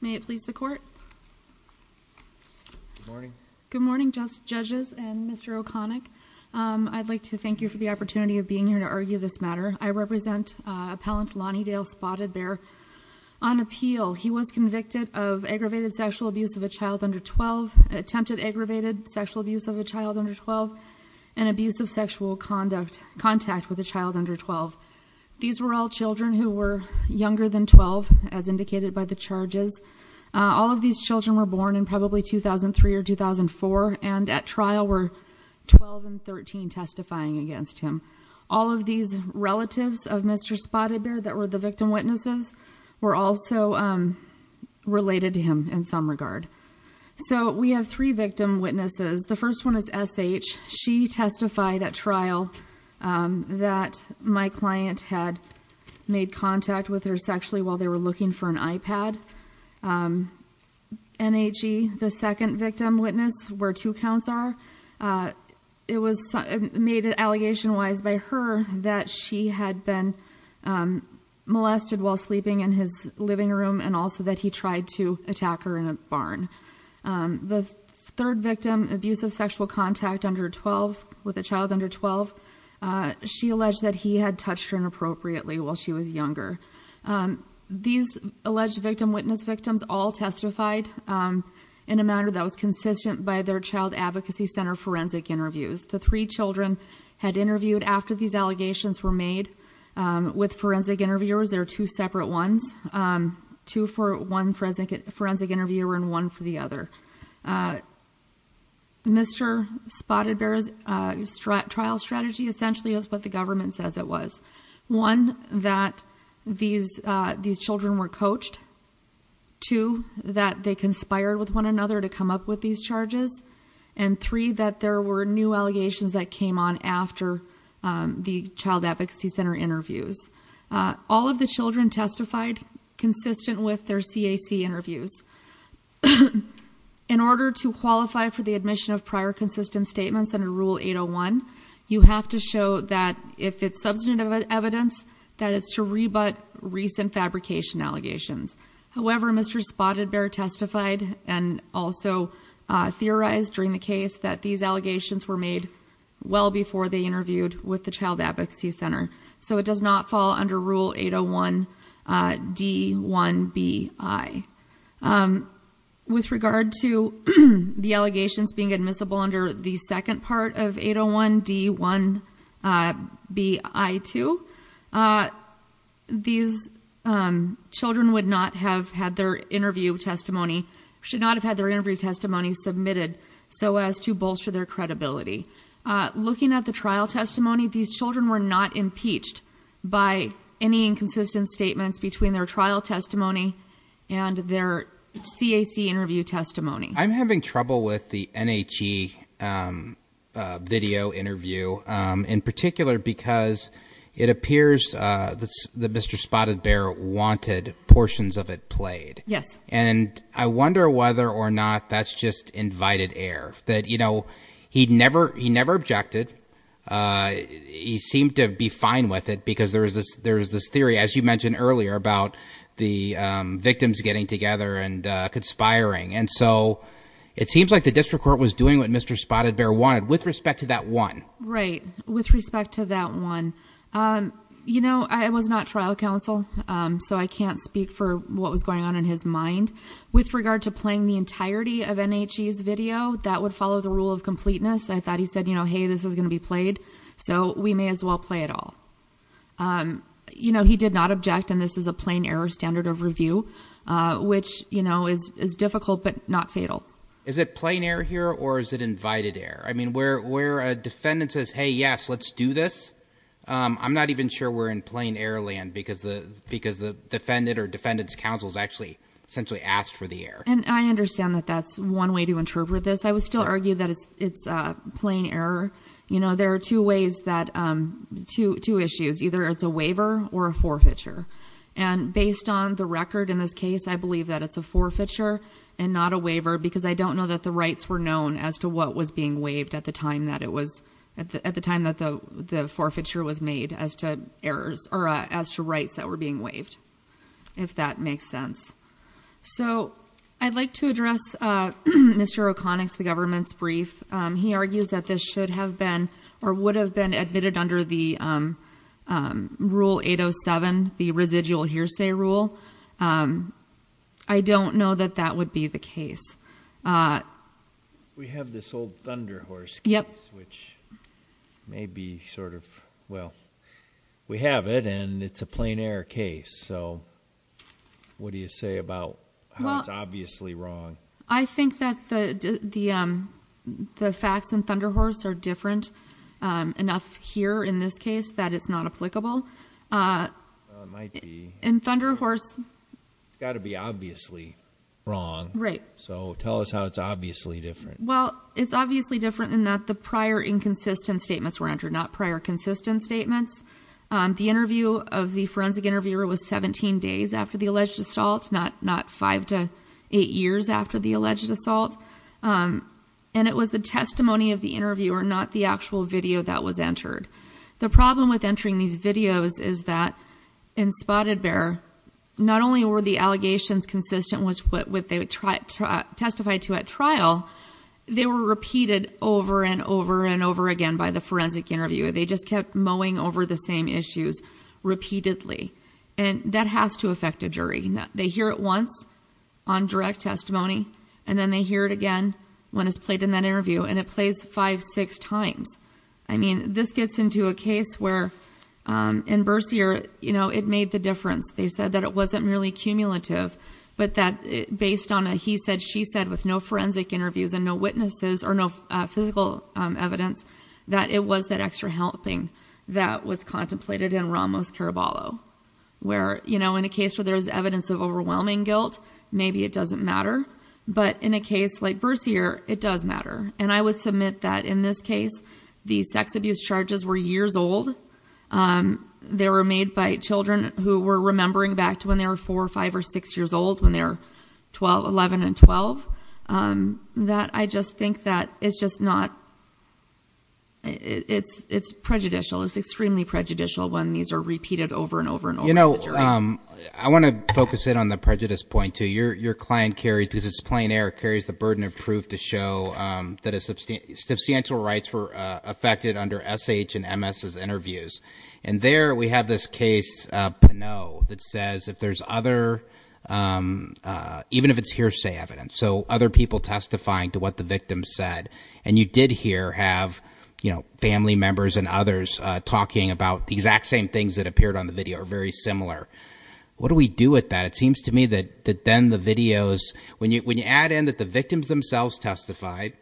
May it please the court. Good morning. Good morning judges and Mr. O'Connick. I'd like to thank you for the opportunity of being here to argue this matter. I represent appellant Lonnie Dale Spotted Bear on appeal. He was convicted of aggravated sexual abuse of a child under 12, attempted aggravated sexual abuse of a child under 12, and abuse of sexual conduct contact with a child under 12. These were all children who were younger than 12 as indicated by the charges. All of these children were born in probably 2003 or 2004 and at trial were 12 and 13 testifying against him. All of these relatives of Mr. Spotted Bear that were the victim witnesses were also related to him in some regard. So we have three victim witnesses. The first one is S.H. She testified at trial that my client had made contact with her sexually while they were looking for an iPad. N.H.E., the second victim witness where two counts are, it was made allegation wise by her that she had been molested while sleeping in his living room and also that he tried to attack her in a third victim abuse of sexual contact under 12 with a child under 12. She alleged that he had touched her inappropriately while she was younger. These alleged victim witness victims all testified in a manner that was consistent by their child advocacy center forensic interviews. The three children had interviewed after these allegations were made with forensic interviewers. There are two separate ones, two for one forensic interviewer and one for the other. Mr. Spotted Bear's trial strategy essentially is what the government says it was. One, that these children were coached. Two, that they conspired with one another to come up with these charges. And three, that there were new allegations that came on after the child advocacy center interviews. All of the children testified consistent with their CAC interviews. In order to qualify for the admission of prior consistent statements under Rule 801, you have to show that if it's substantive evidence, that it's to rebut recent fabrication allegations. However, Mr. Spotted Bear testified and also theorized during the case that these allegations were made well before they interviewed with the D1BI. With regard to the allegations being admissible under the second part of 801 D1BI2, these children would not have had their interview testimony, should not have had their interview testimony submitted so as to bolster their credibility. Looking at the trial testimony, these children were not impeached by any inconsistent statements between their trial testimony and their CAC interview testimony. I'm having trouble with the NHE video interview in particular because it appears that Mr. Spotted Bear wanted portions of it played. Yes. And I wonder whether or not that's just invited air. He never objected. He seemed to be fine with it because there's this theory, as you mentioned earlier, about the victims getting together and conspiring. And so it seems like the district court was doing what Mr. Spotted Bear wanted with respect to that one. Right. With respect to that one. I was not trial counsel, so I can't speak for what was going on in his mind. With regard to playing the entirety of NHE's video, that would follow the rule of completeness. I thought he said, you know, hey, this is going to be played, so we may as well play it all. You know, he did not object. And this is a plain error standard of review, which, you know, is difficult but not fatal. Is it plain error here or is it invited error? I mean, where a defendant says, hey, yes, let's do this. I'm not even sure we're in plain error land because the defendant or defendant's counsel is actually essentially asked for the air. And I understand that that's one way to interpret this. I would still argue that it's a plain error. You know, there are two ways that two two issues, either it's a waiver or a forfeiture. And based on the record in this case, I believe that it's a forfeiture and not a waiver because I don't know that the rights were known as to what was being waived at the time that it was at the time that the forfeiture was made as to errors or as to rights that were being waived, if that makes sense. So I'd like to address Mr. O'Connick's, the government's brief. He argues that this should have been or would have been admitted under the rule 807, the residual hearsay rule. I don't know that that would be the case. We have this old Thunder Horse case, which may be sort of, well, we have it and it's a plain error case. So what do you say about how it's obviously wrong? I think that the facts in Thunder Horse are different enough here in this case that it's not applicable. In Thunder Horse, it's got to be different. Tell us how it's obviously different. Well, it's obviously different in that the prior inconsistent statements were entered, not prior consistent statements. The interview of the forensic interviewer was 17 days after the alleged assault, not five to eight years after the alleged assault. And it was the testimony of the interviewer, not the actual video that was entered. The problem with entering these videos is that in Spotted Bear, not only were the allegations consistent with what they testified to at trial, they were repeated over and over and over again by the forensic interviewer. They just kept mowing over the same issues repeatedly. And that has to affect a jury. They hear it once on direct testimony, and then they hear it again when it's played in that interview. And it plays five, six times. I mean, this gets into a case where in Bercier, you know, it made the difference. They said that it wasn't merely cumulative, but that based on a he said, she said, with no forensic interviews and no witnesses or no physical evidence, that it was that extra helping that was contemplated in Ramos Caraballo. Where, you know, in a case where there is evidence of overwhelming guilt, maybe it doesn't matter. But in a case like Bercier, it does matter. And I would submit that in this case, the sex abuse charges were years old. They were made by children who were remembering back to when they were four or five or six years old, when they're 12, 11 and 12. That I just think that it's just not. It's it's prejudicial, it's extremely prejudicial when these are repeated over and over and over. You know, I want to focus in on the prejudice point to your your client carried because it's plain air carries the burden of proof to show that a substantial rights were affected under S.H. and M.S.'s interviews. And there we have this case, you know, that says if there's other even if it's hearsay evidence, so other people testifying to what the victim said and you did here have, you know, family members and others talking about the exact same things that appeared on the video are very similar. What do we do with that? It seems to me that that then the videos, when you when you add in that the victims themselves testified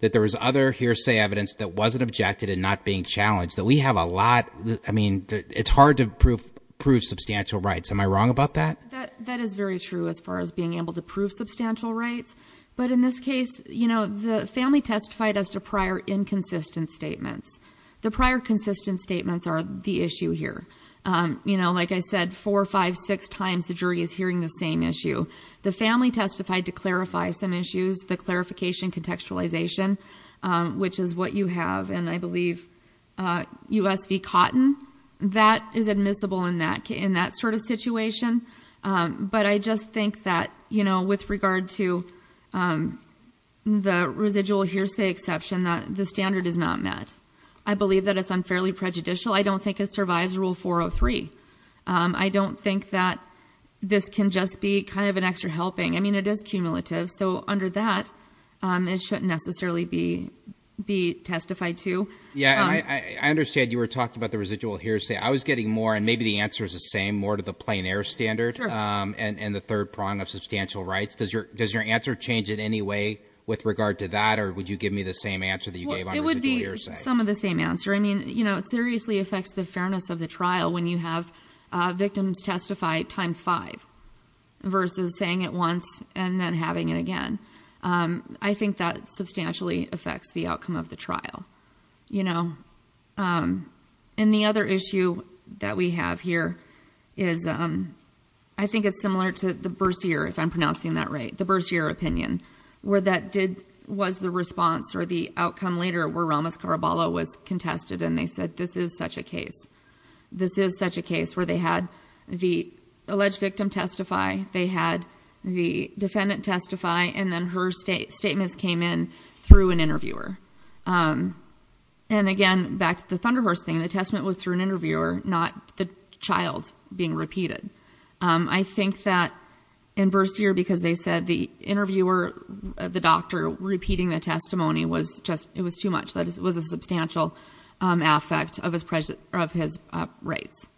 that there was other hearsay evidence that wasn't objected and not being challenged, that we have a lot. I mean, it's hard to prove substantial rights. Am I wrong about that? That is very true as far as being able to prove substantial rights. But in this case, you know, the family testified as to prior inconsistent statements. The prior consistent statements are the issue here. You know, like I said, four or five, six times the jury is hearing the same issue. The family testified to clarify some issues, the clarification, contextualization, which is what you have. And I believe USV Cotton, that is admissible in that in that sort of situation. But I just think that, you know, with regard to the residual hearsay exception, the standard is not met. I believe that it's unfairly prejudicial. I don't think it survives Rule 403. I don't think that this can just be kind of an extra helping. I mean, it is cumulative. So under that, it shouldn't necessarily be be testified to. Yeah, I understand you were talking about the residual hearsay. I was getting more and maybe the answer is the same, more to the plain air standard and the third prong of substantial rights. Does your does your answer change in any way with regard to that? Or would you give me the same answer that you gave? It would be some of the same answer. I mean, you know, it seriously affects the fairness of the trial when you have victims testify times five versus saying it once and then having it again. I think that substantially affects the outcome of the trial, you know. And the other issue that we have here is, I think it's similar to the Bercier, if I'm pronouncing that right. The Bercier opinion, where that did, was the response or the outcome later where Ramos Caraballo was contested and they said, this is such a case. This is such a case where they had the alleged victim testify. They had the defendant testify, and then her statements came in through an interviewer. And again, back to the Thunder Horse thing, the testament was through an interviewer, not the child being repeated. I think that in Bercier, because they said the interviewer, the doctor repeating the testimony was just, it was too much. That was a substantial affect of his rights.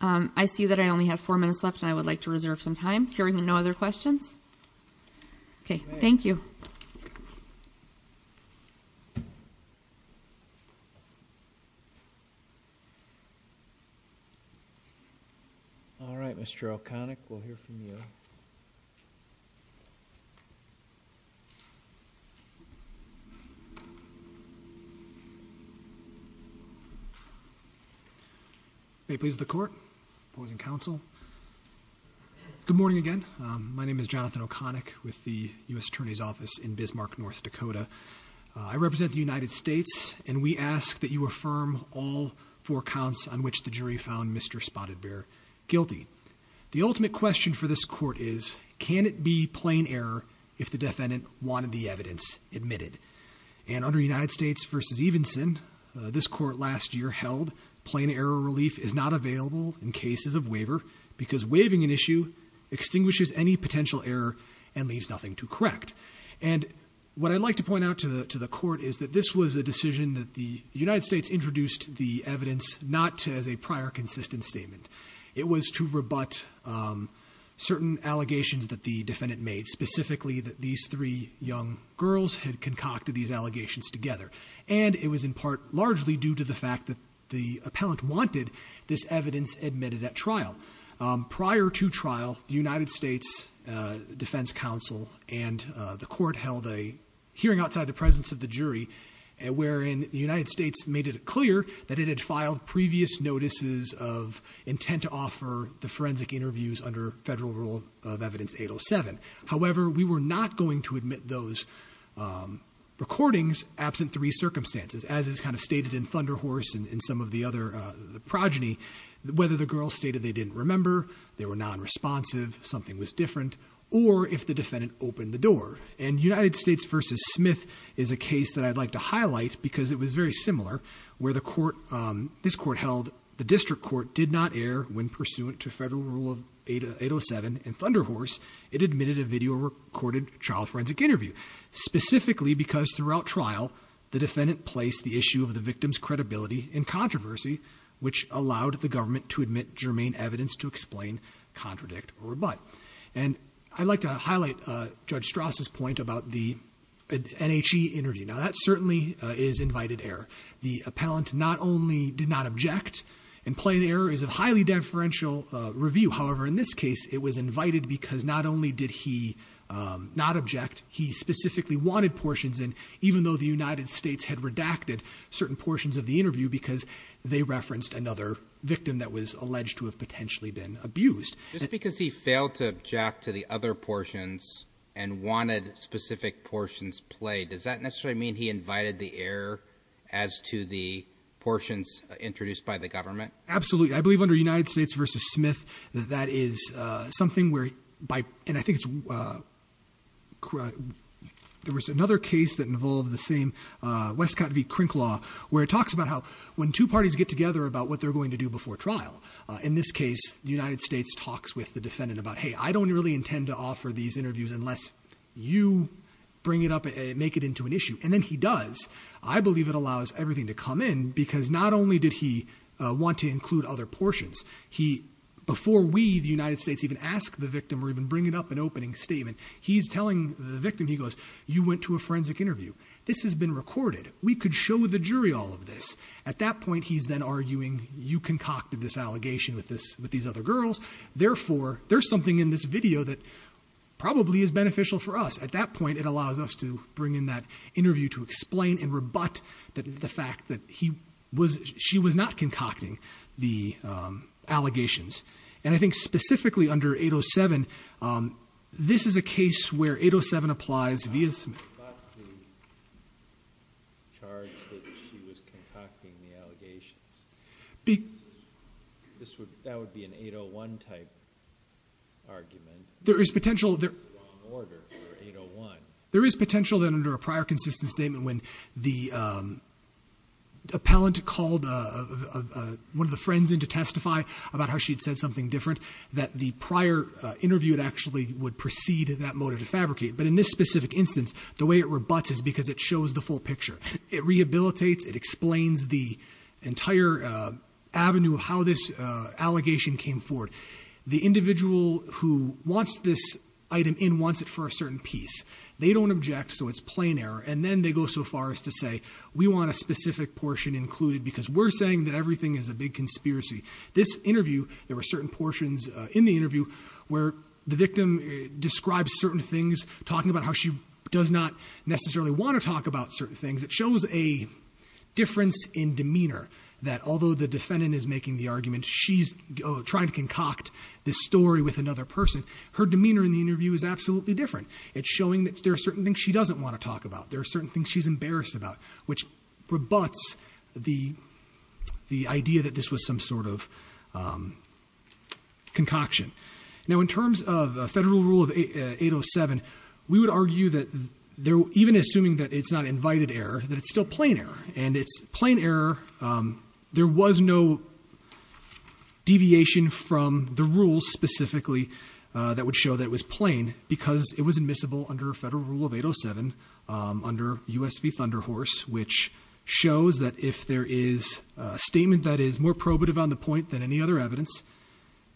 I see that I only have four minutes left, and I would like to reserve some time. Hearing no other questions? Okay, thank you. All right, Mr. O'Connick, we'll hear from you. May it please the court, opposing counsel. Good morning again, my name is Jonathan O'Connick with the US Attorney's Office in Bismarck, North Dakota. I represent the United States, and we ask that you affirm all four counts on which the jury found Mr. Spotted Bear guilty. The ultimate question for this court is, can it be plain error if the defendant wanted the evidence admitted? And under United States versus Evenson, this court last year held, plain error relief is not available in cases of waiver because waiving an issue extinguishes any potential error and leaves nothing to correct. And what I'd like to point out to the court is that this was a decision that the United States introduced the evidence not as a prior consistent statement. It was to rebut certain allegations that the defendant made, specifically that these three young girls had concocted these allegations together. And it was in part largely due to the fact that the appellant wanted this evidence admitted at trial. Prior to trial, the United States Defense Council and the court held a hearing outside the presence of the jury, wherein the United States made it clear that it had filed previous notices of intent to offer the forensic interviews under federal rule of evidence 807. However, we were not going to admit those recordings absent three circumstances, as is kind of stated in Thunder Horse and some of the other progeny. Whether the girl stated they didn't remember, they were non-responsive, something was different, or if the defendant opened the door. And United States versus Smith is a case that I'd like to highlight because it was very similar, where this court held the district court did not err when pursuant to federal rule 807 in Thunder Horse. It admitted a video recorded child forensic interview, specifically because throughout trial, the defendant placed the issue of the victim's credibility in controversy, which allowed the government to admit germane evidence to explain, contradict, or rebut. And I'd like to highlight Judge Strauss' point about the NHE interview. Now, that certainly is invited error. The appellant not only did not object, in plain error is a highly deferential review. However, in this case, it was invited because not only did he not object, he specifically wanted portions, and even though the United States had redacted certain portions of the interview, because they referenced another victim that was alleged to have potentially been abused. Just because he failed to object to the other portions, and wanted specific portions played, does that necessarily mean he invited the error as to the portions introduced by the government? Absolutely. I believe under United States versus Smith, that is something where, and I think it's... There was another case that involved the same Westcott v. Crinklaw, where it talks about how when two parties get together about what they're going to do before trial, in this case, the United States talks with the defendant about, hey, I don't really intend to offer these interviews unless you bring it up and make it into an issue. And then he does. I believe it allows everything to come in, because not only did he want to include other portions, he, before we, the United States, even ask the victim or even bring it up in opening statement, he's telling the victim, he goes, you went to a forensic interview. This has been recorded. We could show the jury all of this. At that point, he's then arguing, you concocted this allegation with these other girls, therefore, there's something in this video that probably is beneficial for us. At that point, it allows us to bring in that interview to explain and rebut the fact that she was not concocting the allegations. And I think specifically under 807, this is a case where 807 applies via ______. But the charge that she was concocting the allegations, that would be an 801-type argument. There is potential. It's a wrong order for 801. There is potential that under a prior consistent statement, when the appellant called one of the friends in to testify about how she had said something different, that the prior interview actually would precede that motive to fabricate. But in this specific instance, the way it rebuts is because it shows the full picture. It rehabilitates. It explains the entire avenue of how this allegation came forward. The individual who wants this item in wants it for a certain piece. They don't object, so it's plain error. And then they go so far as to say, we want a specific portion included because we're saying that everything is a big conspiracy. This interview, there were certain portions in the interview where the victim describes certain things, talking about how she does not necessarily want to talk about certain things. It shows a difference in demeanor, that although the defendant is making the argument, she's trying to concoct this story with another person, her demeanor in the interview is absolutely different. It's showing that there are certain things she doesn't want to talk about. There are certain things she's embarrassed about, which rebuts the idea that this was some sort of concoction. Now, in terms of Federal Rule of 807, we would argue that even assuming that it's not invited error, that it's still plain error, and it's plain error. There was no deviation from the rules specifically that would show that it was plain because it was admissible under Federal Rule of 807 under U.S. v. Thunderhorse, which shows that if there is a statement that is more probative on the point than any other evidence,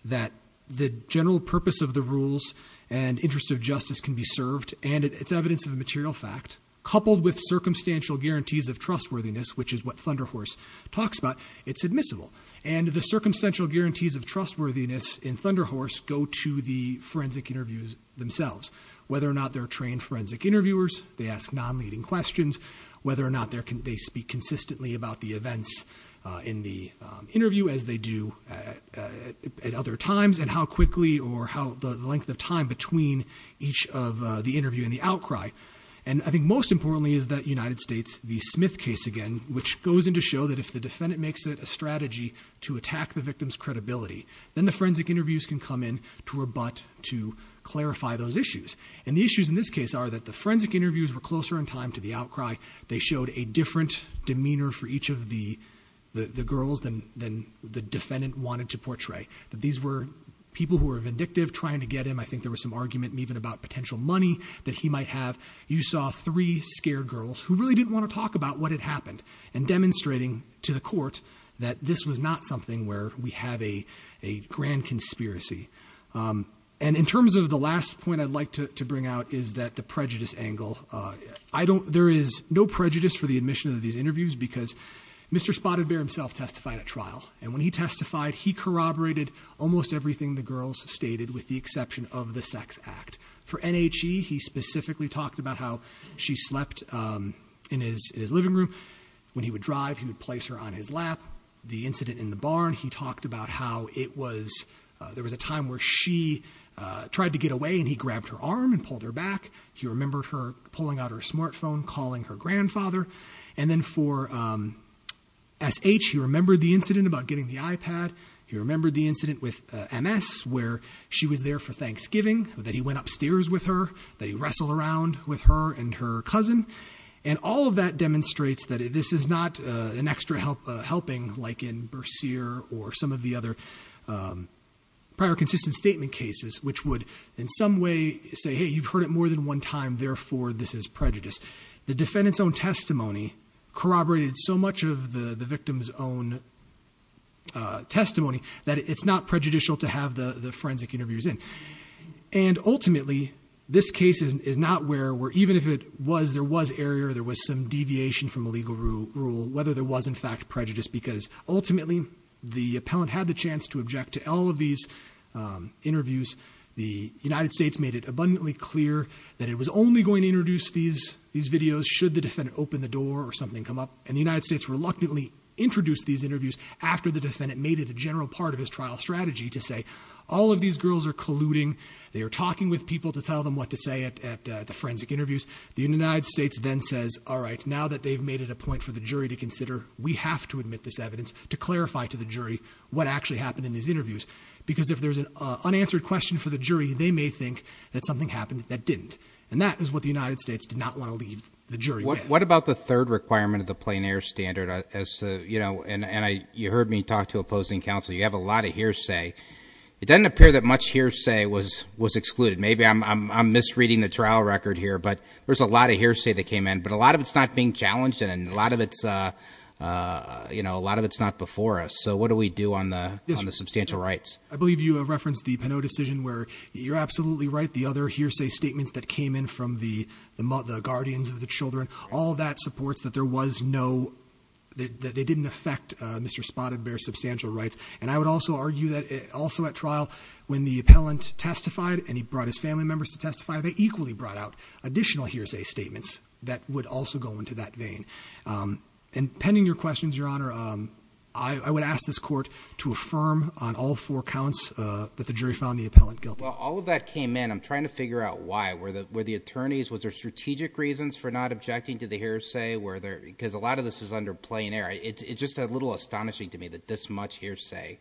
that the general purpose of the rules and interest of justice can be served, and it's evidence of a material fact, coupled with circumstantial guarantees of trustworthiness, which is what Thunderhorse talks about, it's admissible. And the circumstantial guarantees of trustworthiness in Thunderhorse go to the forensic interviews themselves, whether or not they're trained forensic interviewers, they ask non-leading questions, whether or not they speak consistently about the events in the interview as they do at other times, and how quickly or how the length of time between each of the interview and the outcry. And I think most importantly is that United States v. Smith case again, which goes into show that if the defendant makes it a strategy to attack the victim's credibility, then the forensic interviews can come in to rebut, to clarify those issues. And the issues in this case are that the forensic interviews were closer in time to the outcry. They showed a different demeanor for each of the girls than the defendant wanted to portray. These were people who were vindictive trying to get him. I think there was some argument even about potential money that he might have. You saw three scared girls who really didn't want to talk about what had happened, and demonstrating to the court that this was not something where we have a grand conspiracy. And in terms of the last point I'd like to bring out is that the prejudice angle, there is no prejudice for the admission of these interviews because Mr. Spotted Bear himself testified at trial. And when he testified, he corroborated almost everything the girls stated with the exception of the sex act. For NHE, he specifically talked about how she slept in his living room. When he would drive, he would place her on his lap. The incident in the barn, he talked about how there was a time where she tried to get away, and he grabbed her arm and pulled her back. He remembered her pulling out her smartphone, calling her grandfather. And then for SH, he remembered the incident about getting the iPad. He remembered the incident with MS, where she was there for Thanksgiving, that he went upstairs with her, that he wrestled around with her and her cousin. And all of that demonstrates that this is not an extra helping like in Bercier or some of the other prior consistent statement cases, which would in some way say, hey, you've heard it more than one time, therefore this is prejudice. The defendant's own testimony corroborated so much of the victim's own testimony that it's not prejudicial to have the forensic interviews in. And ultimately, this case is not where, even if it was, there was error, there was some deviation from a legal rule, whether there was in fact prejudice, because ultimately the appellant had the chance to object to all of these interviews. The United States made it abundantly clear that it was only going to introduce these videos should the defendant open the door or something come up. And the United States reluctantly introduced these interviews after the defendant made it a general part of his trial strategy to say, all of these girls are colluding, they are talking with people to tell them what to say at the forensic interviews. The United States then says, all right, now that they've made it a point for the jury to consider, we have to admit this evidence to clarify to the jury what actually happened in these interviews. Because if there's an unanswered question for the jury, they may think that something happened that didn't. And that is what the United States did not want to leave the jury with. What about the third requirement of the plein air standard? And you heard me talk to opposing counsel. You have a lot of hearsay. It doesn't appear that much hearsay was excluded. Maybe I'm misreading the trial record here, but there's a lot of hearsay that came in. But a lot of it's not being challenged, and a lot of it's not before us. So what do we do on the substantial rights? I believe you referenced the Pinot decision where you're absolutely right. The other hearsay statements that came in from the guardians of the children, all that supports that there was no, that they didn't affect Mr. Spotted Bear's substantial rights. And I would also argue that also at trial, when the appellant testified and he brought his family members to testify, they equally brought out additional hearsay statements that would also go into that vein. And pending your questions, Your Honor, I would ask this court to affirm on all four counts that the jury found the appellant guilty. Well, all of that came in. I'm trying to figure out why. Were the attorneys, was there strategic reasons for not objecting to the hearsay? Because a lot of this is under plein air. It's just a little astonishing to me that this much hearsay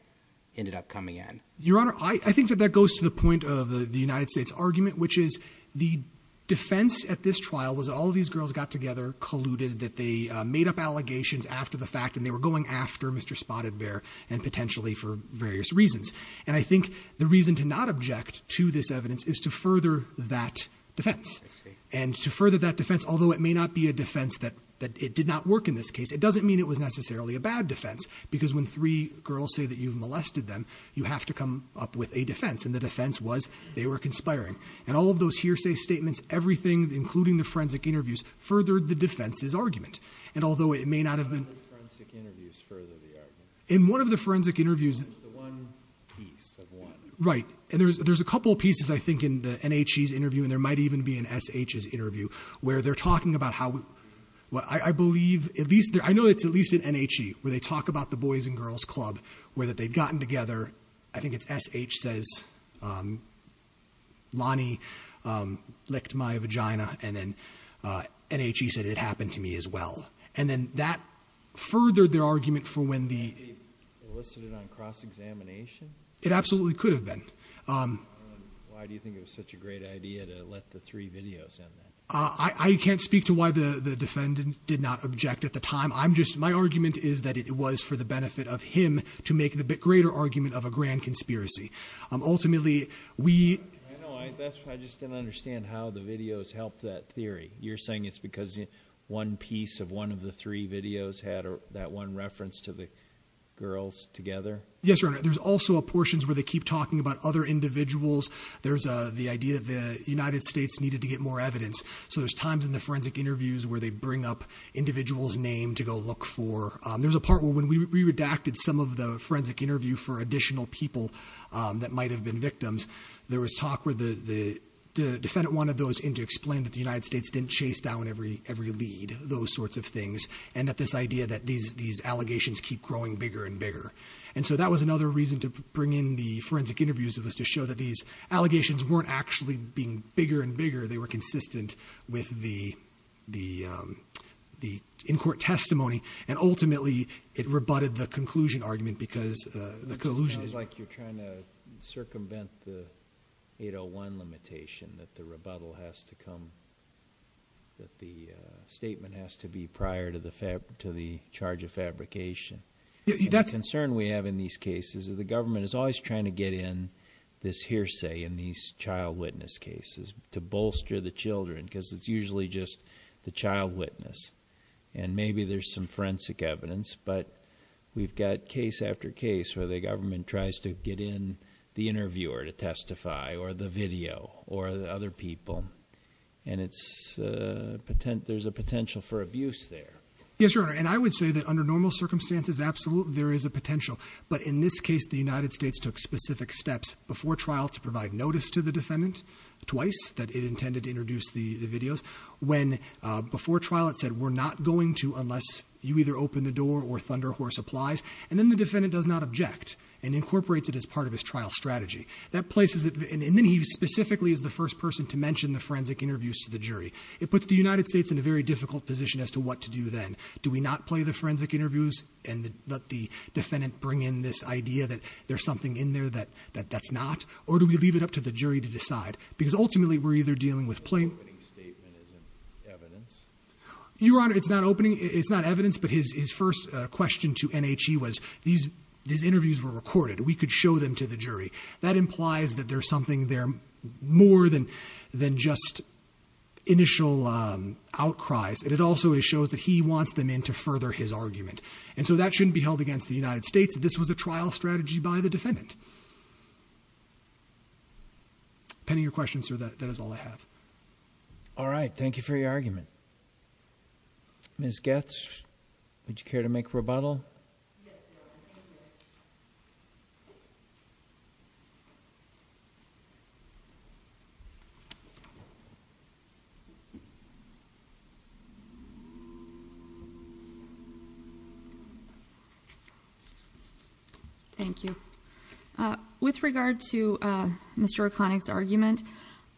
ended up coming in. Your Honor, I think that that goes to the point of the United States argument, which is the defense at this trial was all of these girls got together, colluded, that they made up allegations after the fact and they were going after Mr. Spotted Bear and potentially for various reasons. And I think the reason to not object to this evidence is to further that defense. And to further that defense, although it may not be a defense that it did not work in this case, it doesn't mean it was necessarily a bad defense because when three girls say that you've molested them, you have to come up with a defense. And the defense was they were conspiring. And all of those hearsay statements, everything, including the forensic interviews, furthered the defense's argument. And although it may not have been... How did the forensic interviews further the argument? In one of the forensic interviews... It was the one piece of one. Right. And there's a couple of pieces, I think, in the NHE's interview, and there might even be an SH's interview, where they're talking about how... I believe at least... I know it's at least in NHE where they talk about the Boys and Girls Club, where they've gotten together. I think it's SH says, Lonnie licked my vagina, and then NHE said it happened to me as well. And then that furthered their argument for when the... Could it be elicited on cross-examination? It absolutely could have been. Why do you think it was such a great idea to let the three videos end there? I can't speak to why the defendant did not object at the time. My argument is that it was for the benefit of him to make the greater argument of a grand conspiracy. Ultimately, we... I know. I just didn't understand how the videos helped that theory. You're saying it's because one piece of one of the three videos had that one reference to the girls together? Yes, Your Honor. There's also portions where they keep talking about other individuals. There's the idea that the United States needed to get more evidence. So there's times in the forensic interviews where they bring up individuals' names to go look for. There's a part where when we redacted some of the forensic interview for additional people that might have been victims, there was talk where the defendant wanted those in to explain that the United States didn't chase down every lead, those sorts of things, and that this idea that these allegations keep growing bigger and bigger. And so that was another reason to bring in the forensic interviews was to show that these allegations weren't actually being bigger and bigger. They were consistent with the in-court testimony, and ultimately it rebutted the conclusion argument because the collusion is... It sounds like you're trying to circumvent the 801 limitation, that the rebuttal has to come... that the statement has to be prior to the charge of fabrication. The concern we have in these cases is the government is always trying to get in this hearsay in these child witness cases to bolster the children because it's usually just the child witness. And maybe there's some forensic evidence, but we've got case after case where the government tries to get in the interviewer to testify or the video or the other people, and there's a potential for abuse there. Yes, Your Honor, and I would say that under normal circumstances, absolutely there is a potential, but in this case the United States took specific steps before trial to provide notice to the defendant twice, that it intended to introduce the videos. Before trial it said, we're not going to unless you either open the door or Thunder Horse applies, and then the defendant does not object and incorporates it as part of his trial strategy. And then he specifically is the first person to mention the forensic interviews to the jury. It puts the United States in a very difficult position as to what to do then. Do we not play the forensic interviews and let the defendant bring in this idea that there's something in there that's not, or do we leave it up to the jury to decide? Because ultimately we're either dealing with plain... The opening statement isn't evidence. Your Honor, it's not evidence, but his first question to NHE was, these interviews were recorded, we could show them to the jury. That implies that there's something there, more than just initial outcries, and it also shows that he wants them in to further his argument. And so that shouldn't be held against the United States, this was a trial strategy by the defendant. Depending on your question, sir, that is all I have. All right, thank you for your argument. Ms. Goetz, would you care to make a rebuttal? Yes, Your Honor, thank you. Thank you. With regard to Mr. O'Connick's argument,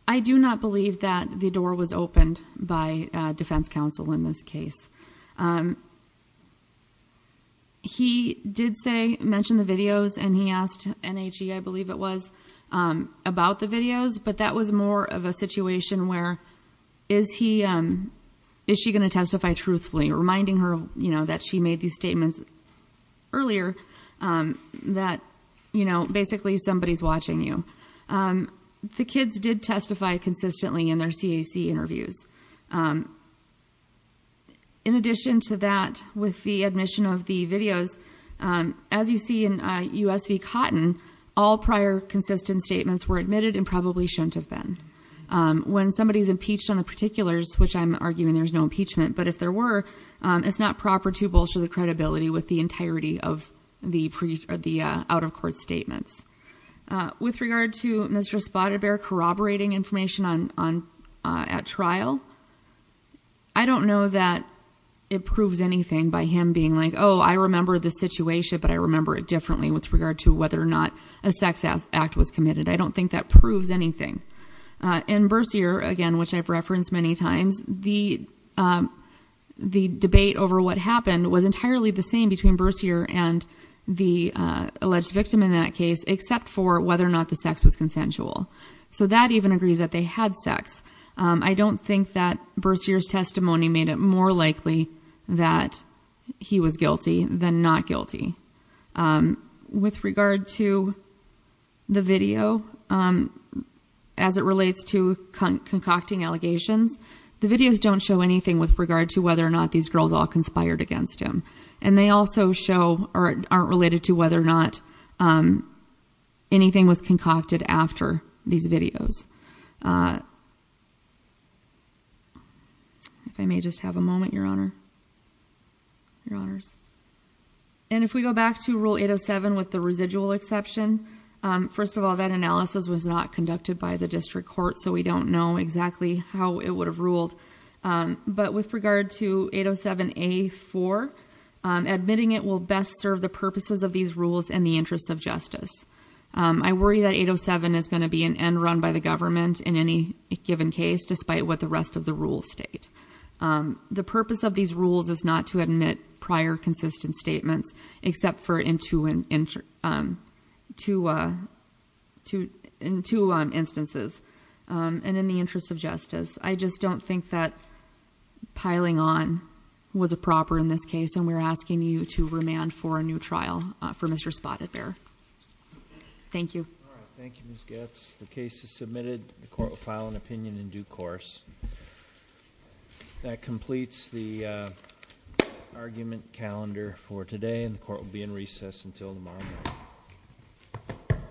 I do not believe that the door was opened by defense counsel in this case. He did mention the videos, and he asked NHE, I believe it was, about the videos, but that was more of a situation where, is she going to testify truthfully, reminding her that she made these statements earlier, that basically somebody's watching you. The kids did testify consistently in their CAC interviews. In addition to that, with the admission of the videos, as you see in U.S. v. Cotton, all prior consistent statements were admitted and probably shouldn't have been. When somebody's impeached on the particulars, which I'm arguing there's no impeachment, but if there were, it's not proper to bolster the credibility with the entirety of the out-of-court statements. With regard to Mr. Spotted Bear corroborating information at trial, I don't know that it proves anything by him being like, oh, I remember the situation, but I remember it differently with regard to whether or not a sex act was committed. I don't think that proves anything. In Bercier, again, which I've referenced many times, the debate over what happened was entirely the same between Bercier and the alleged victim in that case, except for whether or not the sex was consensual. So that even agrees that they had sex. I don't think that Bercier's testimony made it more likely that he was guilty than not guilty. With regard to the video, as it relates to concocting allegations, the videos don't show anything with regard to whether or not these girls all conspired against him, and they also show or aren't related to whether or not anything was concocted after these videos. If I may just have a moment, Your Honor. Your Honors. And if we go back to Rule 807 with the residual exception, first of all, that analysis was not conducted by the district court, so we don't know exactly how it would have ruled. But with regard to 807A4, admitting it will best serve the purposes of these rules and the interests of justice. I worry that 807 is going to be an end run by the government in any given case, despite what the rest of the rules state. The purpose of these rules is not to admit prior consistent statements, except for in two instances, and in the interest of justice. I just don't think that piling on was a proper in this case, and we're asking you to remand for a new trial for Mr. Spotted Bear. Thank you. Thank you, Ms. Goetz. The case is submitted. The court will file an opinion in due course. That completes the argument calendar for today, and the court will be in recess until tomorrow morning.